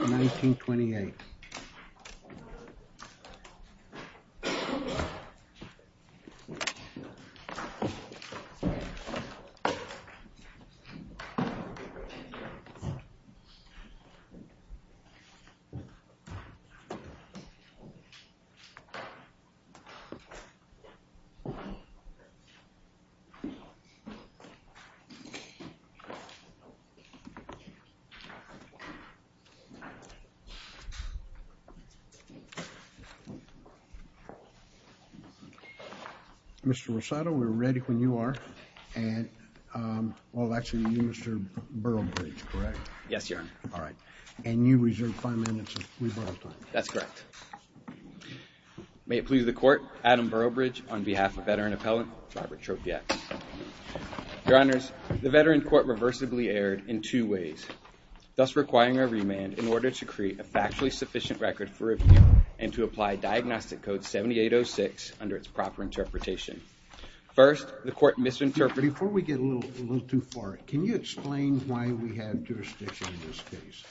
1928 Mr. Rossato, we're ready when you are and, well actually you're Mr. Burrowbridge, correct? Yes, Your Honor. All right, and you reserve five minutes of rebuttal time. That's correct. May it please the Court, Adam Burrowbridge on behalf of veteran appellant Robert Trofiak. Your Honors, the veteran court reversibly erred in two ways, thus requiring a remand in order to create a factually sufficient record for review and to apply Diagnostic Code 7806 under its proper interpretation. First, the court misinterpreted... Before we get a little too far, can you explain why we have jurisdiction in this case?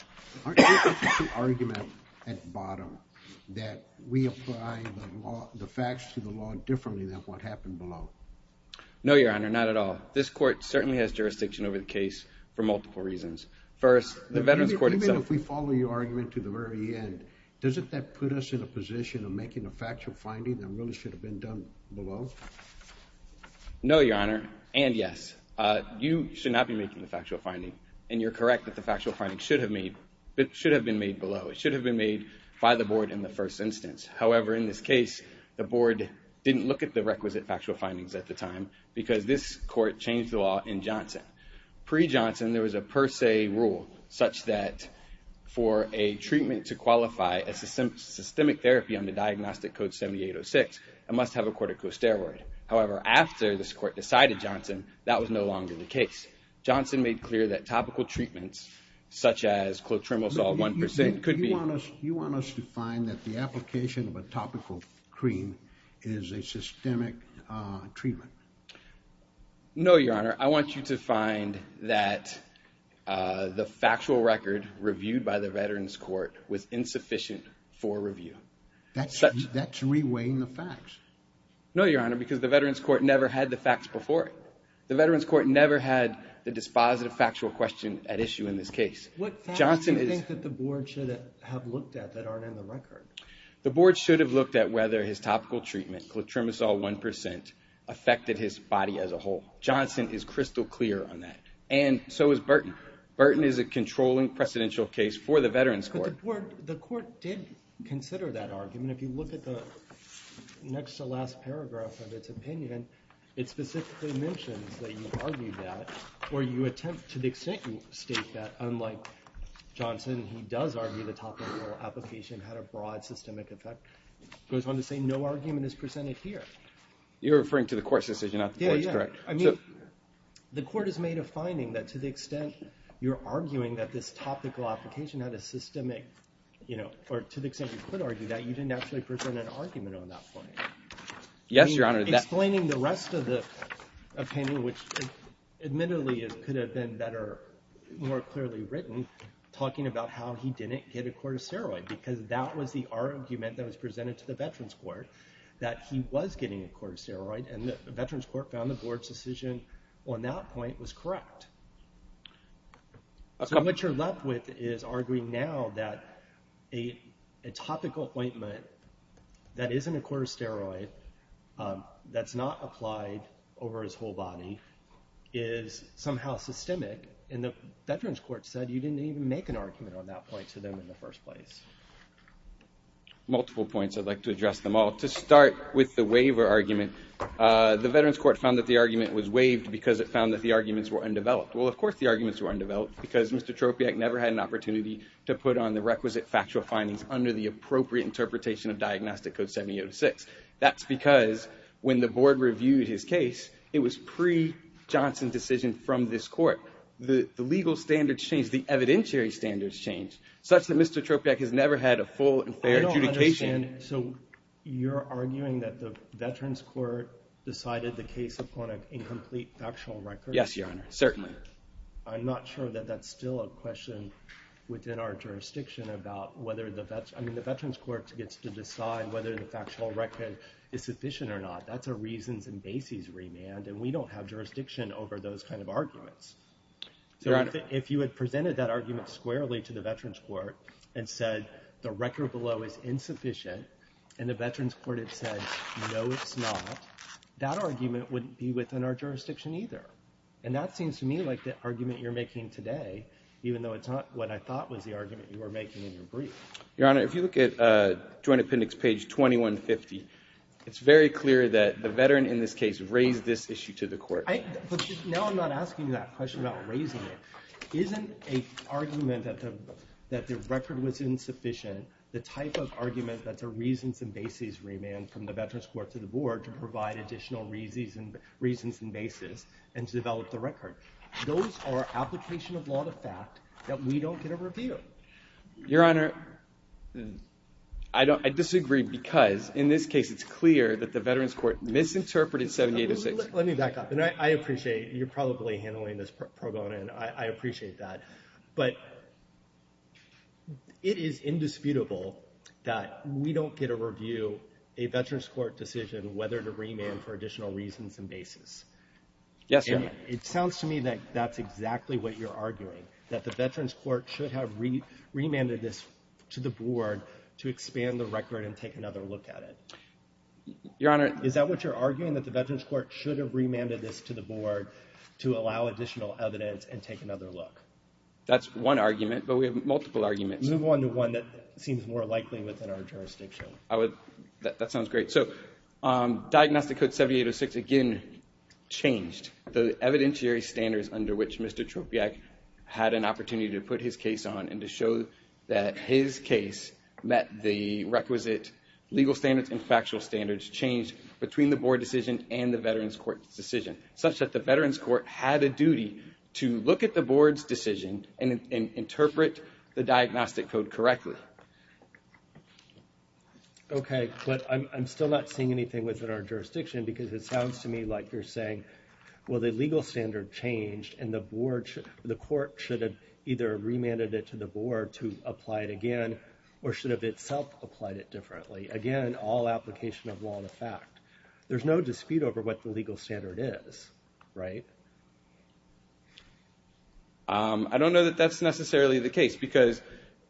Aren't there two arguments at the bottom that we apply the facts to the law differently than what happened below? No, Your Honor, not at all. This court certainly has jurisdiction over the case for multiple reasons. First, the veterans court itself... Even if we follow your argument to the very end, doesn't that put us in a position of making a factual finding that really should have been done below? No, Your Honor, and yes. You should not be making the factual finding, and you're correct that the factual finding should have been made below. It should have been made by the board in the first instance. However, in this case, the board didn't look at the requisite factual findings at the time because this court changed the law in Johnson. Pre-Johnson, there was a per se rule such that for a treatment to qualify as a systemic therapy under Diagnostic Code 7806, it must have a corticosteroid. However, after this court decided, Johnson, that was no longer the case. Johnson made clear that topical treatments such as clotrimazole 1% could be... No, Your Honor. I want you to find that the factual record reviewed by the veterans court was insufficient for review. That's reweighing the facts. No, Your Honor, because the veterans court never had the facts before it. The veterans court never had the dispositive factual question at issue in this case. What facts do you think that the board should have looked at that aren't in the record? The board should have looked at whether his topical treatment, clotrimazole 1%, affected his body as a whole. Johnson is crystal clear on that, and so is Burton. Burton is a controlling precedential case for the veterans court. But the court did consider that argument. If you look at the next to last paragraph of its opinion, it specifically mentions that you argued that or you attempt to the extent you state that, unlike Johnson, he does argue the topical application had a broad systemic effect. It goes on to say no argument is presented here. You're referring to the court's decision, not the board's, correct? Yeah, yeah. I mean, the court has made a finding that to the extent you're arguing that this topical application had a systemic, you know, or to the extent you could argue that, you didn't actually present an argument on that point. Yes, Your Honor. Explaining the rest of the opinion, which admittedly could have been better, more clearly written, talking about how he didn't get a corticeroid because that was the argument that was presented to the veterans court, that he was getting a corticeroid. And the veterans court found the board's decision on that point was correct. So what you're left with is arguing now that a topical appointment that isn't a corticeroid, that's not applied over his whole body, is somehow systemic. And the veterans court said you didn't even make an argument on that point to them in the first place. Multiple points. I'd like to address them all. To start with the waiver argument, the veterans court found that the argument was waived because it found that the arguments were undeveloped. Well, of course the arguments were undeveloped because Mr. Tropiak never had an opportunity to put on the requisite factual findings under the appropriate interpretation of Diagnostic Code 7806. That's because when the board reviewed his case, it was pre-Johnson's decision from this court. So the legal standards changed, the evidentiary standards changed, such that Mr. Tropiak has never had a full and fair adjudication. I don't understand. So you're arguing that the veterans court decided the case upon an incomplete factual record? Yes, Your Honor. Certainly. I'm not sure that that's still a question within our jurisdiction about whether the veterans court gets to decide whether the factual record is sufficient or not. That's a reasons and bases remand, and we don't have jurisdiction over those kind of arguments. So if you had presented that argument squarely to the veterans court and said the record below is insufficient, and the veterans court had said no, it's not, that argument wouldn't be within our jurisdiction either. And that seems to me like the argument you're making today, even though it's not what I thought was the argument you were making in your brief. Your Honor, if you look at Joint Appendix page 2150, it's very clear that the veteran in this case raised this issue to the court. But now I'm not asking you that question about raising it. Isn't an argument that the record was insufficient the type of argument that's a reasons and bases remand from the veterans court to the board to provide additional reasons and bases and to develop the record? Those are application of law to fact that we don't get a review. Your Honor, I disagree because in this case it's clear that the veterans court misinterpreted 7806. Let me back up. And I appreciate you're probably handling this pro bono, and I appreciate that. But it is indisputable that we don't get a review, a veterans court decision whether to remand for additional reasons and bases. Yes, Your Honor. It sounds to me that that's exactly what you're arguing, that the veterans court should have remanded this to the board to expand the record and take another look at it. Your Honor. Is that what you're arguing, that the veterans court should have remanded this to the board to allow additional evidence and take another look? That's one argument, but we have multiple arguments. Move on to one that seems more likely within our jurisdiction. That sounds great. So Diagnostic Code 7806, again, changed the evidentiary standards under which Mr. Tropiak had an opportunity to put his case on and to show that his case met the requisite legal standards and factual standards changed between the board decision and the veterans court decision, such that the veterans court had a duty to look at the board's decision and interpret the diagnostic code correctly. Okay, but I'm still not seeing anything within our jurisdiction because it sounds to me like you're saying, well, the legal standard changed and the court should have either remanded it to the board to apply it again or should have itself applied it differently. Again, all application of law in effect. There's no dispute over what the legal standard is, right? I don't know that that's necessarily the case because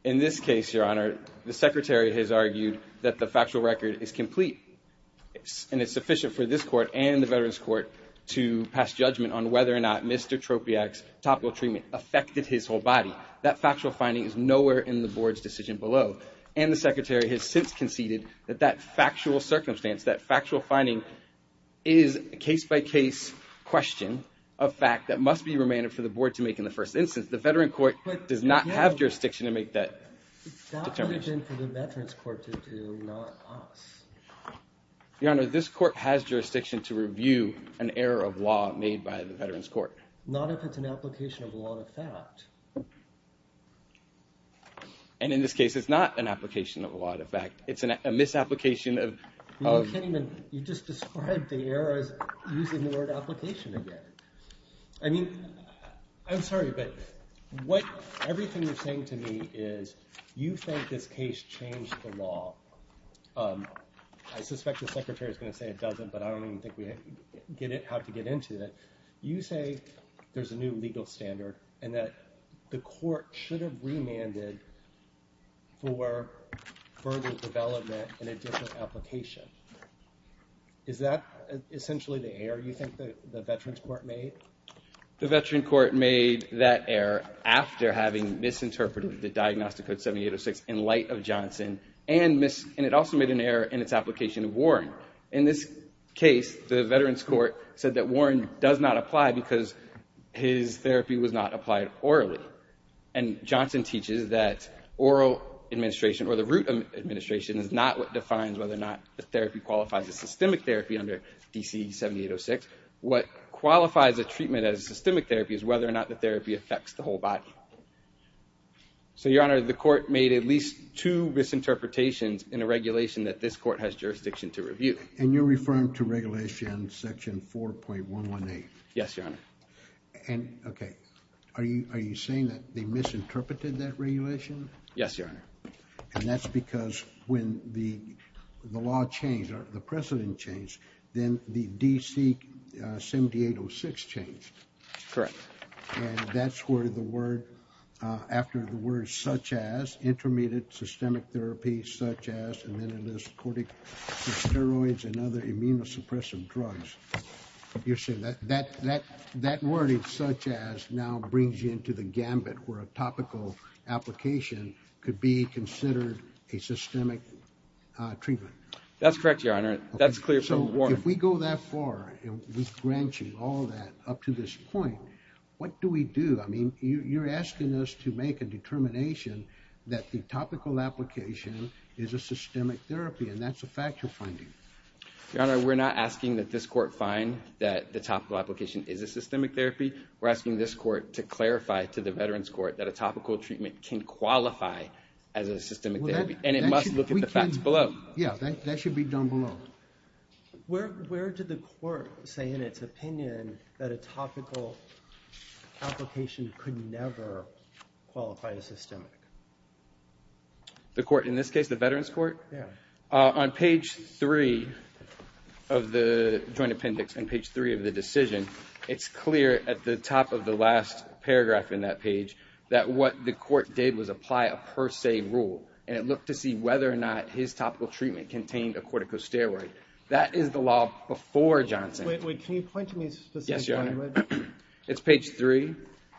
in this case, Your Honor, the secretary has argued that the factual record is complete and it's sufficient for this court and the veterans court to pass judgment on whether or not Mr. Tropiak's topical treatment affected his whole body. That factual finding is nowhere in the board's decision below, and the secretary has since conceded that that factual circumstance, that factual finding is a case-by-case question of fact that must be remanded for the board to make in the first instance. The veteran court does not have jurisdiction to make that determination. That would have been for the veterans court to do, not us. Your Honor, this court has jurisdiction to review an error of law made by the veterans court. Not if it's an application of law in effect. And in this case, it's not an application of law in effect. It's a misapplication of. You just described the error as using the word application again. I mean, I'm sorry, but what everything you're saying to me is you think this case changed the law. I suspect the secretary is going to say it doesn't, but I don't think we have to get into that. You say there's a new legal standard and that the court should have remanded for further development in a different application. Is that essentially the error you think the veterans court made? The veteran court made that error after having misinterpreted the diagnostic code 7806 in light of Johnson, and it also made an error in its application of Warren. In this case, the veterans court said that Warren does not apply because his therapy was not applied orally. And Johnson teaches that oral administration or the root administration is not what defines whether or not the therapy qualifies as systemic therapy under DC 7806. What qualifies a treatment as systemic therapy is whether or not the therapy affects the whole body. So, Your Honor, the court made at least two misinterpretations in a regulation that this court has jurisdiction to review. And you're referring to regulation section 4.118. Yes, Your Honor. And, OK, are you saying that they misinterpreted that regulation? Yes, Your Honor. And that's because when the law changed or the precedent changed, then the DC 7806 changed. Correct. And that's where the word, after the word such as, intermediate systemic therapy, such as, and then it lists corticosteroids and other immunosuppressive drugs. You're saying that that word, such as, now brings you into the gambit where a topical application could be considered a systemic treatment. That's correct, Your Honor. That's clear from Warren. If we go that far with branching all that up to this point, what do we do? I mean, you're asking us to make a determination that the topical application is a systemic therapy. And that's a fact you're finding. Your Honor, we're not asking that this court find that the topical application is a systemic therapy. We're asking this court to clarify to the Veterans Court that a topical treatment can qualify as a systemic therapy. And it must look at the facts below. Yeah, that should be done below. Where did the court say in its opinion that a topical application could never qualify as systemic? The court, in this case, the Veterans Court? Yeah. On page three of the joint appendix, on page three of the decision, it's clear at the top of the last paragraph in that page that what the court did was apply a per se rule. And it looked to see whether or not his topical treatment contained a corticosteroid. That is the law before Johnson. Wait, wait. Can you point to me specifically? Yes, Your Honor. It's page three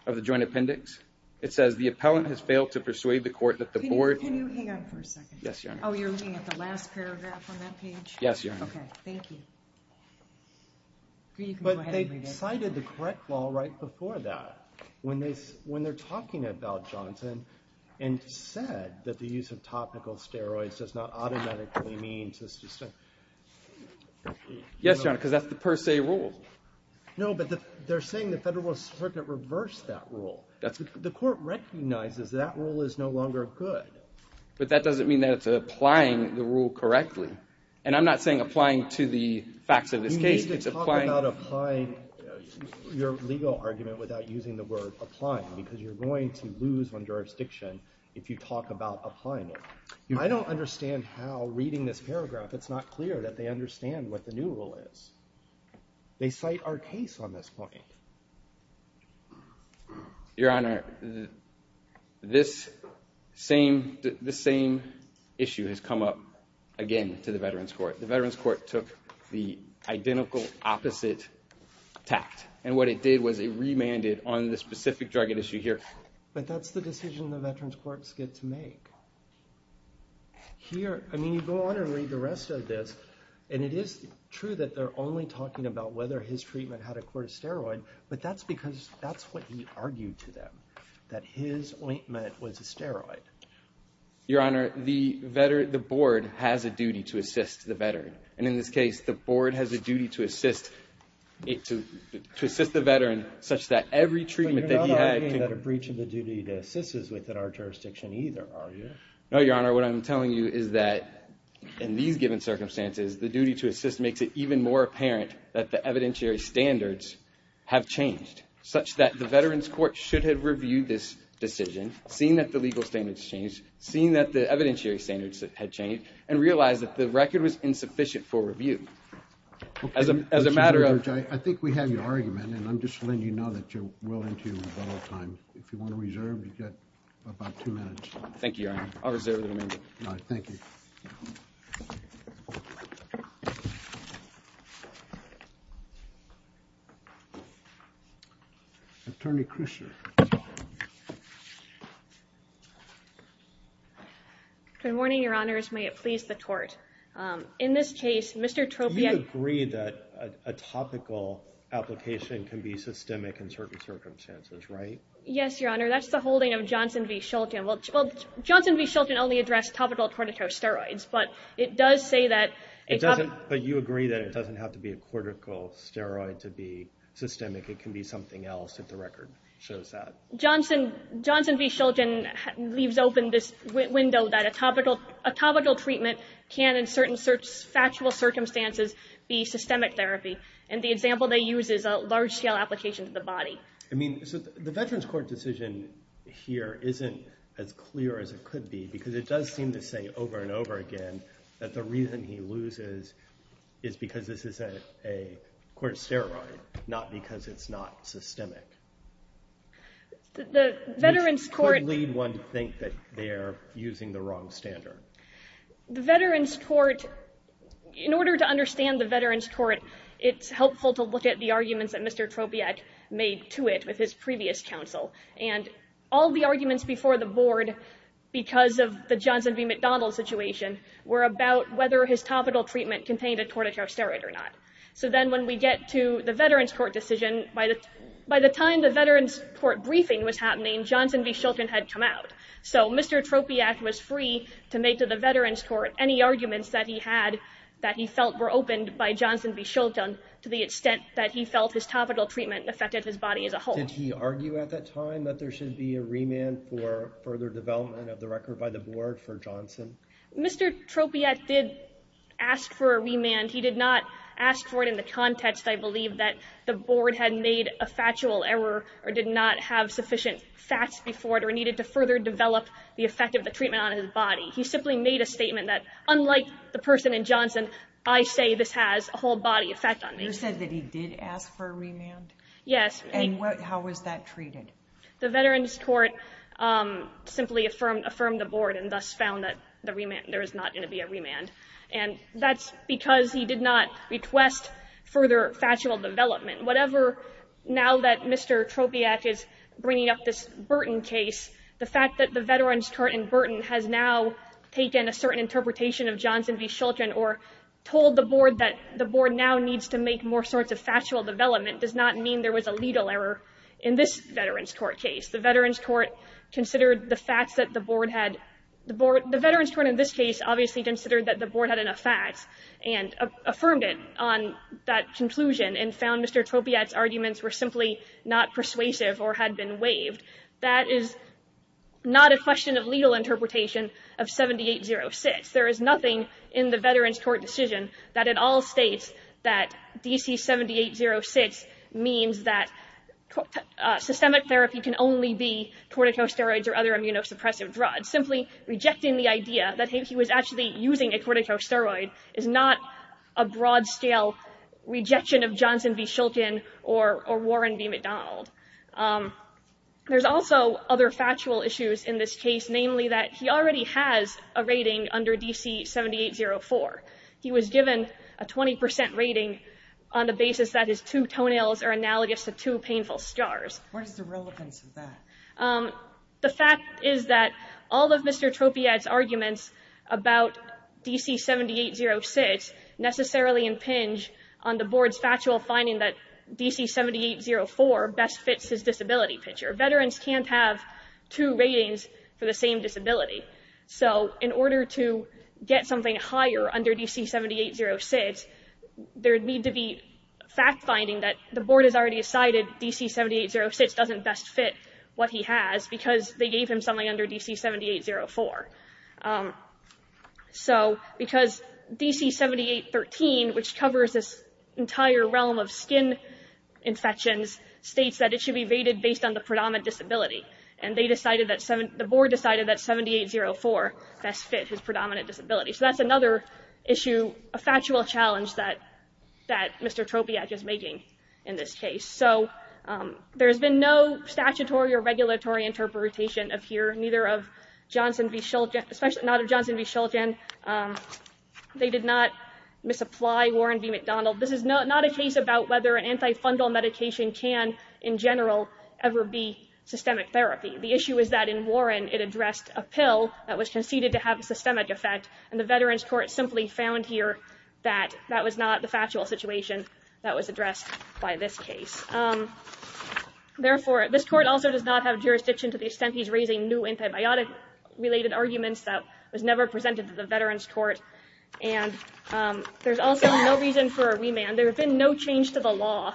of the joint appendix. It says the appellant has failed to persuade the court that the board... Can you hang on for a second? Yes, Your Honor. Oh, you're looking at the last paragraph on that page? Yes, Your Honor. Okay, thank you. But they cited the correct law right before that. When they're talking about Johnson and said that the use of topical steroids does not automatically mean... Yes, Your Honor, because that's the per se rule. No, but they're saying the federal circuit reversed that rule. The court recognizes that rule is no longer good. But that doesn't mean that it's applying the rule correctly. And I'm not saying applying to the facts of this case. They basically talk about applying your legal argument without using the word applying because you're going to lose on jurisdiction if you talk about applying it. I don't understand how, reading this paragraph, it's not clear that they understand what the new rule is. They cite our case on this point. Your Honor, this same issue has come up again to the Veterans Court. The Veterans Court took the identical opposite tact. And what it did was it remanded on the specific drug at issue here. But that's the decision the Veterans Courts get to make. Here, I mean, you go on and read the rest of this, and it is true that they're only talking about whether his treatment had a cortisteroid, but that's because that's what he argued to them, that his ointment was a steroid. Your Honor, the Board has a duty to assist the Veteran. And in this case, the Board has a duty to assist the Veteran such that every treatment that he had could be... But you're not arguing that a breach of the duty to assist is within our jurisdiction either, are you? No, Your Honor. What I'm telling you is that in these given circumstances, the duty to assist makes it even more apparent that the evidentiary standards have changed such that the Veterans Court should have reviewed this decision, seen that the legal standards changed, seen that the evidentiary standards had changed, and realized that the record was insufficient for review. As a matter of... I think we have your argument. And I'm just letting you know that you're willing to allow time. If you want to reserve, you've got about two minutes. Thank you, Your Honor. I'll reserve the remainder. All right. Thank you. Attorney Christian. Good morning, Your Honors. May it please the Court. In this case, Mr. Tropia... You agree that a topical application can be systemic in certain circumstances, right? Yes, Your Honor. That's the holding of Johnson v. Shulton. Well, Johnson v. Shulton only addressed topical corticosteroids, but it does say that... But you agree that it doesn't have to be a cortical steroid to be systemic. It can be something else if the record shows that. Johnson v. Shulton leaves open this window that a topical treatment can, in certain factual circumstances, be systemic therapy. And the example they use is a large-scale application to the body. I mean, the Veterans Court decision here isn't as clear as it could be, because it does seem to say over and over again that the reason he loses is because this is a corticosteroid, not because it's not systemic. The Veterans Court... Which could lead one to think that they are using the wrong standard. The Veterans Court... In order to understand the Veterans Court, it's helpful to look at the arguments that Mr. Tropiac made to it with his previous counsel. And all the arguments before the Board, because of the Johnson v. McDonald situation, were about whether his topical treatment contained a corticosteroid or not. So then when we get to the Veterans Court decision, by the time the Veterans Court briefing was happening, Johnson v. Shulton had come out. So Mr. Tropiac was free to make to the Veterans Court any arguments that he had that he felt were opened by Johnson v. Shulton to the extent that he felt his topical treatment affected his body as a whole. Did he argue at that time that there should be a remand for further development of the record by the Board for Johnson? Mr. Tropiac did ask for a remand. He did not ask for it in the context, I believe, that the Board had made a factual error or did not have sufficient facts before it or needed to further develop the effect of the treatment on his body. He simply made a statement that, unlike the person in Johnson, I say this has a whole body effect on me. You said that he did ask for a remand? Yes. And how was that treated? The Veterans Court simply affirmed the Board and thus found that there was not going to be a remand. And that's because he did not request further factual development. Whatever now that Mr. Tropiac is bringing up this Burton case, the fact that the Veterans Court in Burton has now taken a certain interpretation of Johnson v. Shulton or told the Board that the Board now needs to make more sorts of factual development does not mean there was a legal error in this Veterans Court case. The Veterans Court considered the facts that the Board had. The Veterans Court in this case obviously considered that the Board had enough facts and affirmed it on that conclusion and found Mr. Tropiac's arguments were simply not persuasive or had been waived. That is not a question of legal interpretation of 7806. There is nothing in the Veterans Court decision that at all states that DC 7806 means that systemic therapy can only be corticosteroids or other immunosuppressive drugs. Simply rejecting the idea that he was actually using a corticosteroid is not a broad-scale rejection of Johnson v. Shulton or Warren v. McDonald. There's also other factual issues in this case, namely that he already has a rating under DC 7804. He was given a 20 percent rating on the basis that his two toenails are analogous to two painful scars. What is the relevance of that? The fact is that all of Mr. Tropiac's arguments about DC 7806 necessarily impinge on the Board's factual finding that DC 7804 best fits his disability picture. Veterans can't have two ratings for the same disability. So in order to get something higher under DC 7806, there would need to be fact-finding that the Board has already decided that DC 7806 doesn't best fit what he has because they gave him something under DC 7804. Because DC 7813, which covers this entire realm of skin infections, states that it should be rated based on the predominant disability. The Board decided that 7804 best fit his predominant disability. So that's another issue, a factual challenge that Mr. Tropiac is making in this case. So there's been no statutory or regulatory interpretation of here, neither of Johnson v. Shulkin, especially not of Johnson v. Shulkin. They did not misapply Warren v. McDonald. This is not a case about whether an antifundal medication can, in general, ever be systemic therapy. The issue is that in Warren, it addressed a pill that was conceded to have a systemic effect, and the Veterans Court simply found here that that was not the factual situation that was addressed by this case. Therefore, this court also does not have jurisdiction to the extent he's raising new antibiotic-related arguments that was never presented to the Veterans Court. And there's also no reason for a remand. There has been no change to the law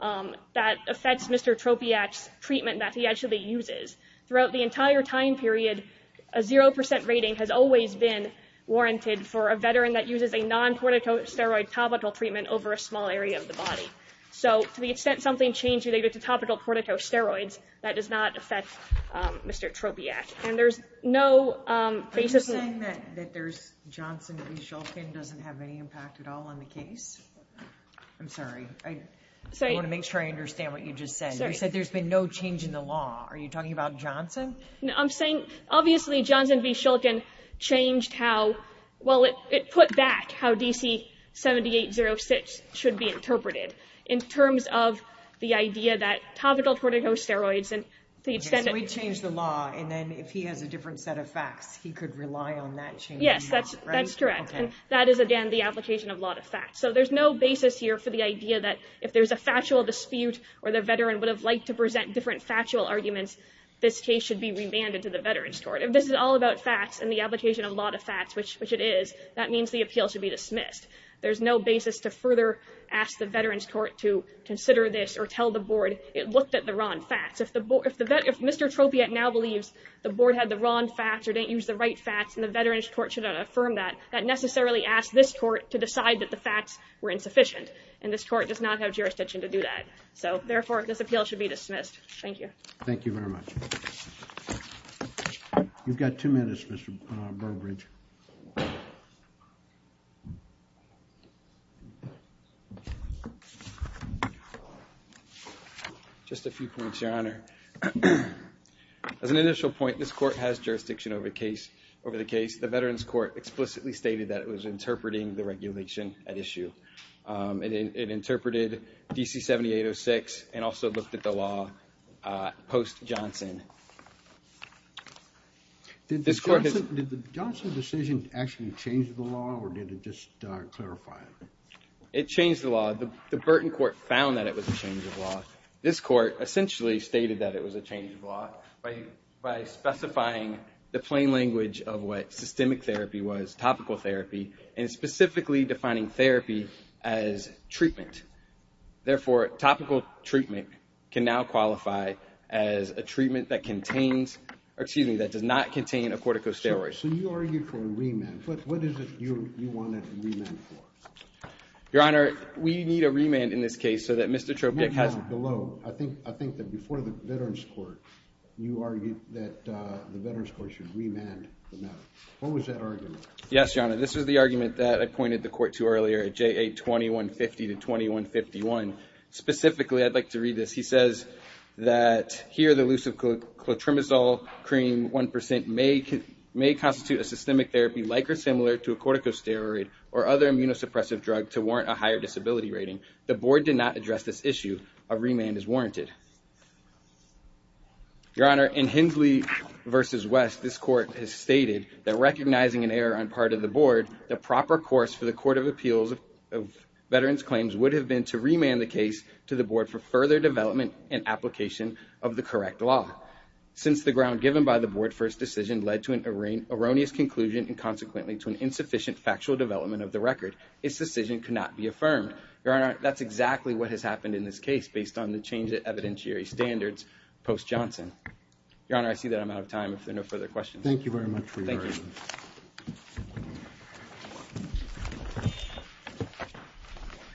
that affects Mr. Tropiac's treatment that he actually uses. Throughout the entire time period, a 0% rating has always been warranted for a Veteran that uses a non-porticosteroid topical treatment over a small area of the body. So to the extent something changed related to topical porticosteroids, that does not affect Mr. Tropiac. And there's no basis in that. Are you saying that Johnson v. Shulkin doesn't have any impact at all on the case? I'm sorry. I want to make sure I understand what you just said. You said there's been no change in the law. Are you talking about Johnson? I'm saying, obviously, Johnson v. Shulkin changed how, well, it put back how DC 7806 should be interpreted in terms of the idea that topical porticosteroids and the extent of... So he changed the law, and then if he has a different set of facts, he could rely on that change? Yes, that's correct. And that is, again, the application of law to facts. So there's no basis here for the idea that if there's a factual dispute or the veteran would have liked to present different factual arguments, this case should be remanded to the veterans' court. If this is all about facts and the application of law to facts, which it is, that means the appeal should be dismissed. There's no basis to further ask the veterans' court to consider this or tell the board it looked at the wrong facts. If Mr. Tropiac now believes the board had the wrong facts or didn't use the right facts and the veterans' court should not affirm that, that necessarily asks this court to decide that the facts were insufficient, and this court does not have jurisdiction to do that. So, therefore, this appeal should be dismissed. Thank you. Thank you very much. You've got two minutes, Mr. Burbridge. Just a few points, Your Honor. As an initial point, this court has jurisdiction over the case. The veterans' court explicitly stated that it was interpreting the regulation at issue. It interpreted DC-7806 and also looked at the law post-Johnson. Did the Johnson decision actually change the law, or did it just clarify it? It changed the law. The Burton court found that it was a change of law. This court essentially stated that it was a change of law by specifying the plain language of what systemic therapy was, topical therapy, and specifically defining therapy as treatment. Therefore, topical treatment can now qualify as a treatment that contains— or, excuse me, that does not contain a corticosteroid. So, you argued for a remand. What is it you wanted a remand for? Your Honor, we need a remand in this case so that Mr. Tropic has— No, no, below. I think that before the veterans' court, you argued that the veterans' court should remand the matter. What was that argument? Yes, Your Honor, this was the argument that I pointed the court to earlier at JA-2150 to 2151. Specifically, I'd like to read this. He says that, here, the elusive clotrimazole cream 1% may constitute a systemic therapy like or similar to a corticosteroid or other immunosuppressive drug to warrant a higher disability rating. The board did not address this issue. A remand is warranted. Your Honor, in Hensley v. West, this court has stated that recognizing an error on part of the board, the proper course for the court of appeals of veterans' claims would have been to remand the case to the board for further development and application of the correct law. Since the ground given by the board for its decision led to an erroneous conclusion and, consequently, to an insufficient factual development of the record, its decision could not be affirmed. Your Honor, that's exactly what has happened in this case based on the change of evidentiary standards post-Johnson. Your Honor, I see that I'm out of time. If there are no further questions. Thank you very much for your time. Thank you.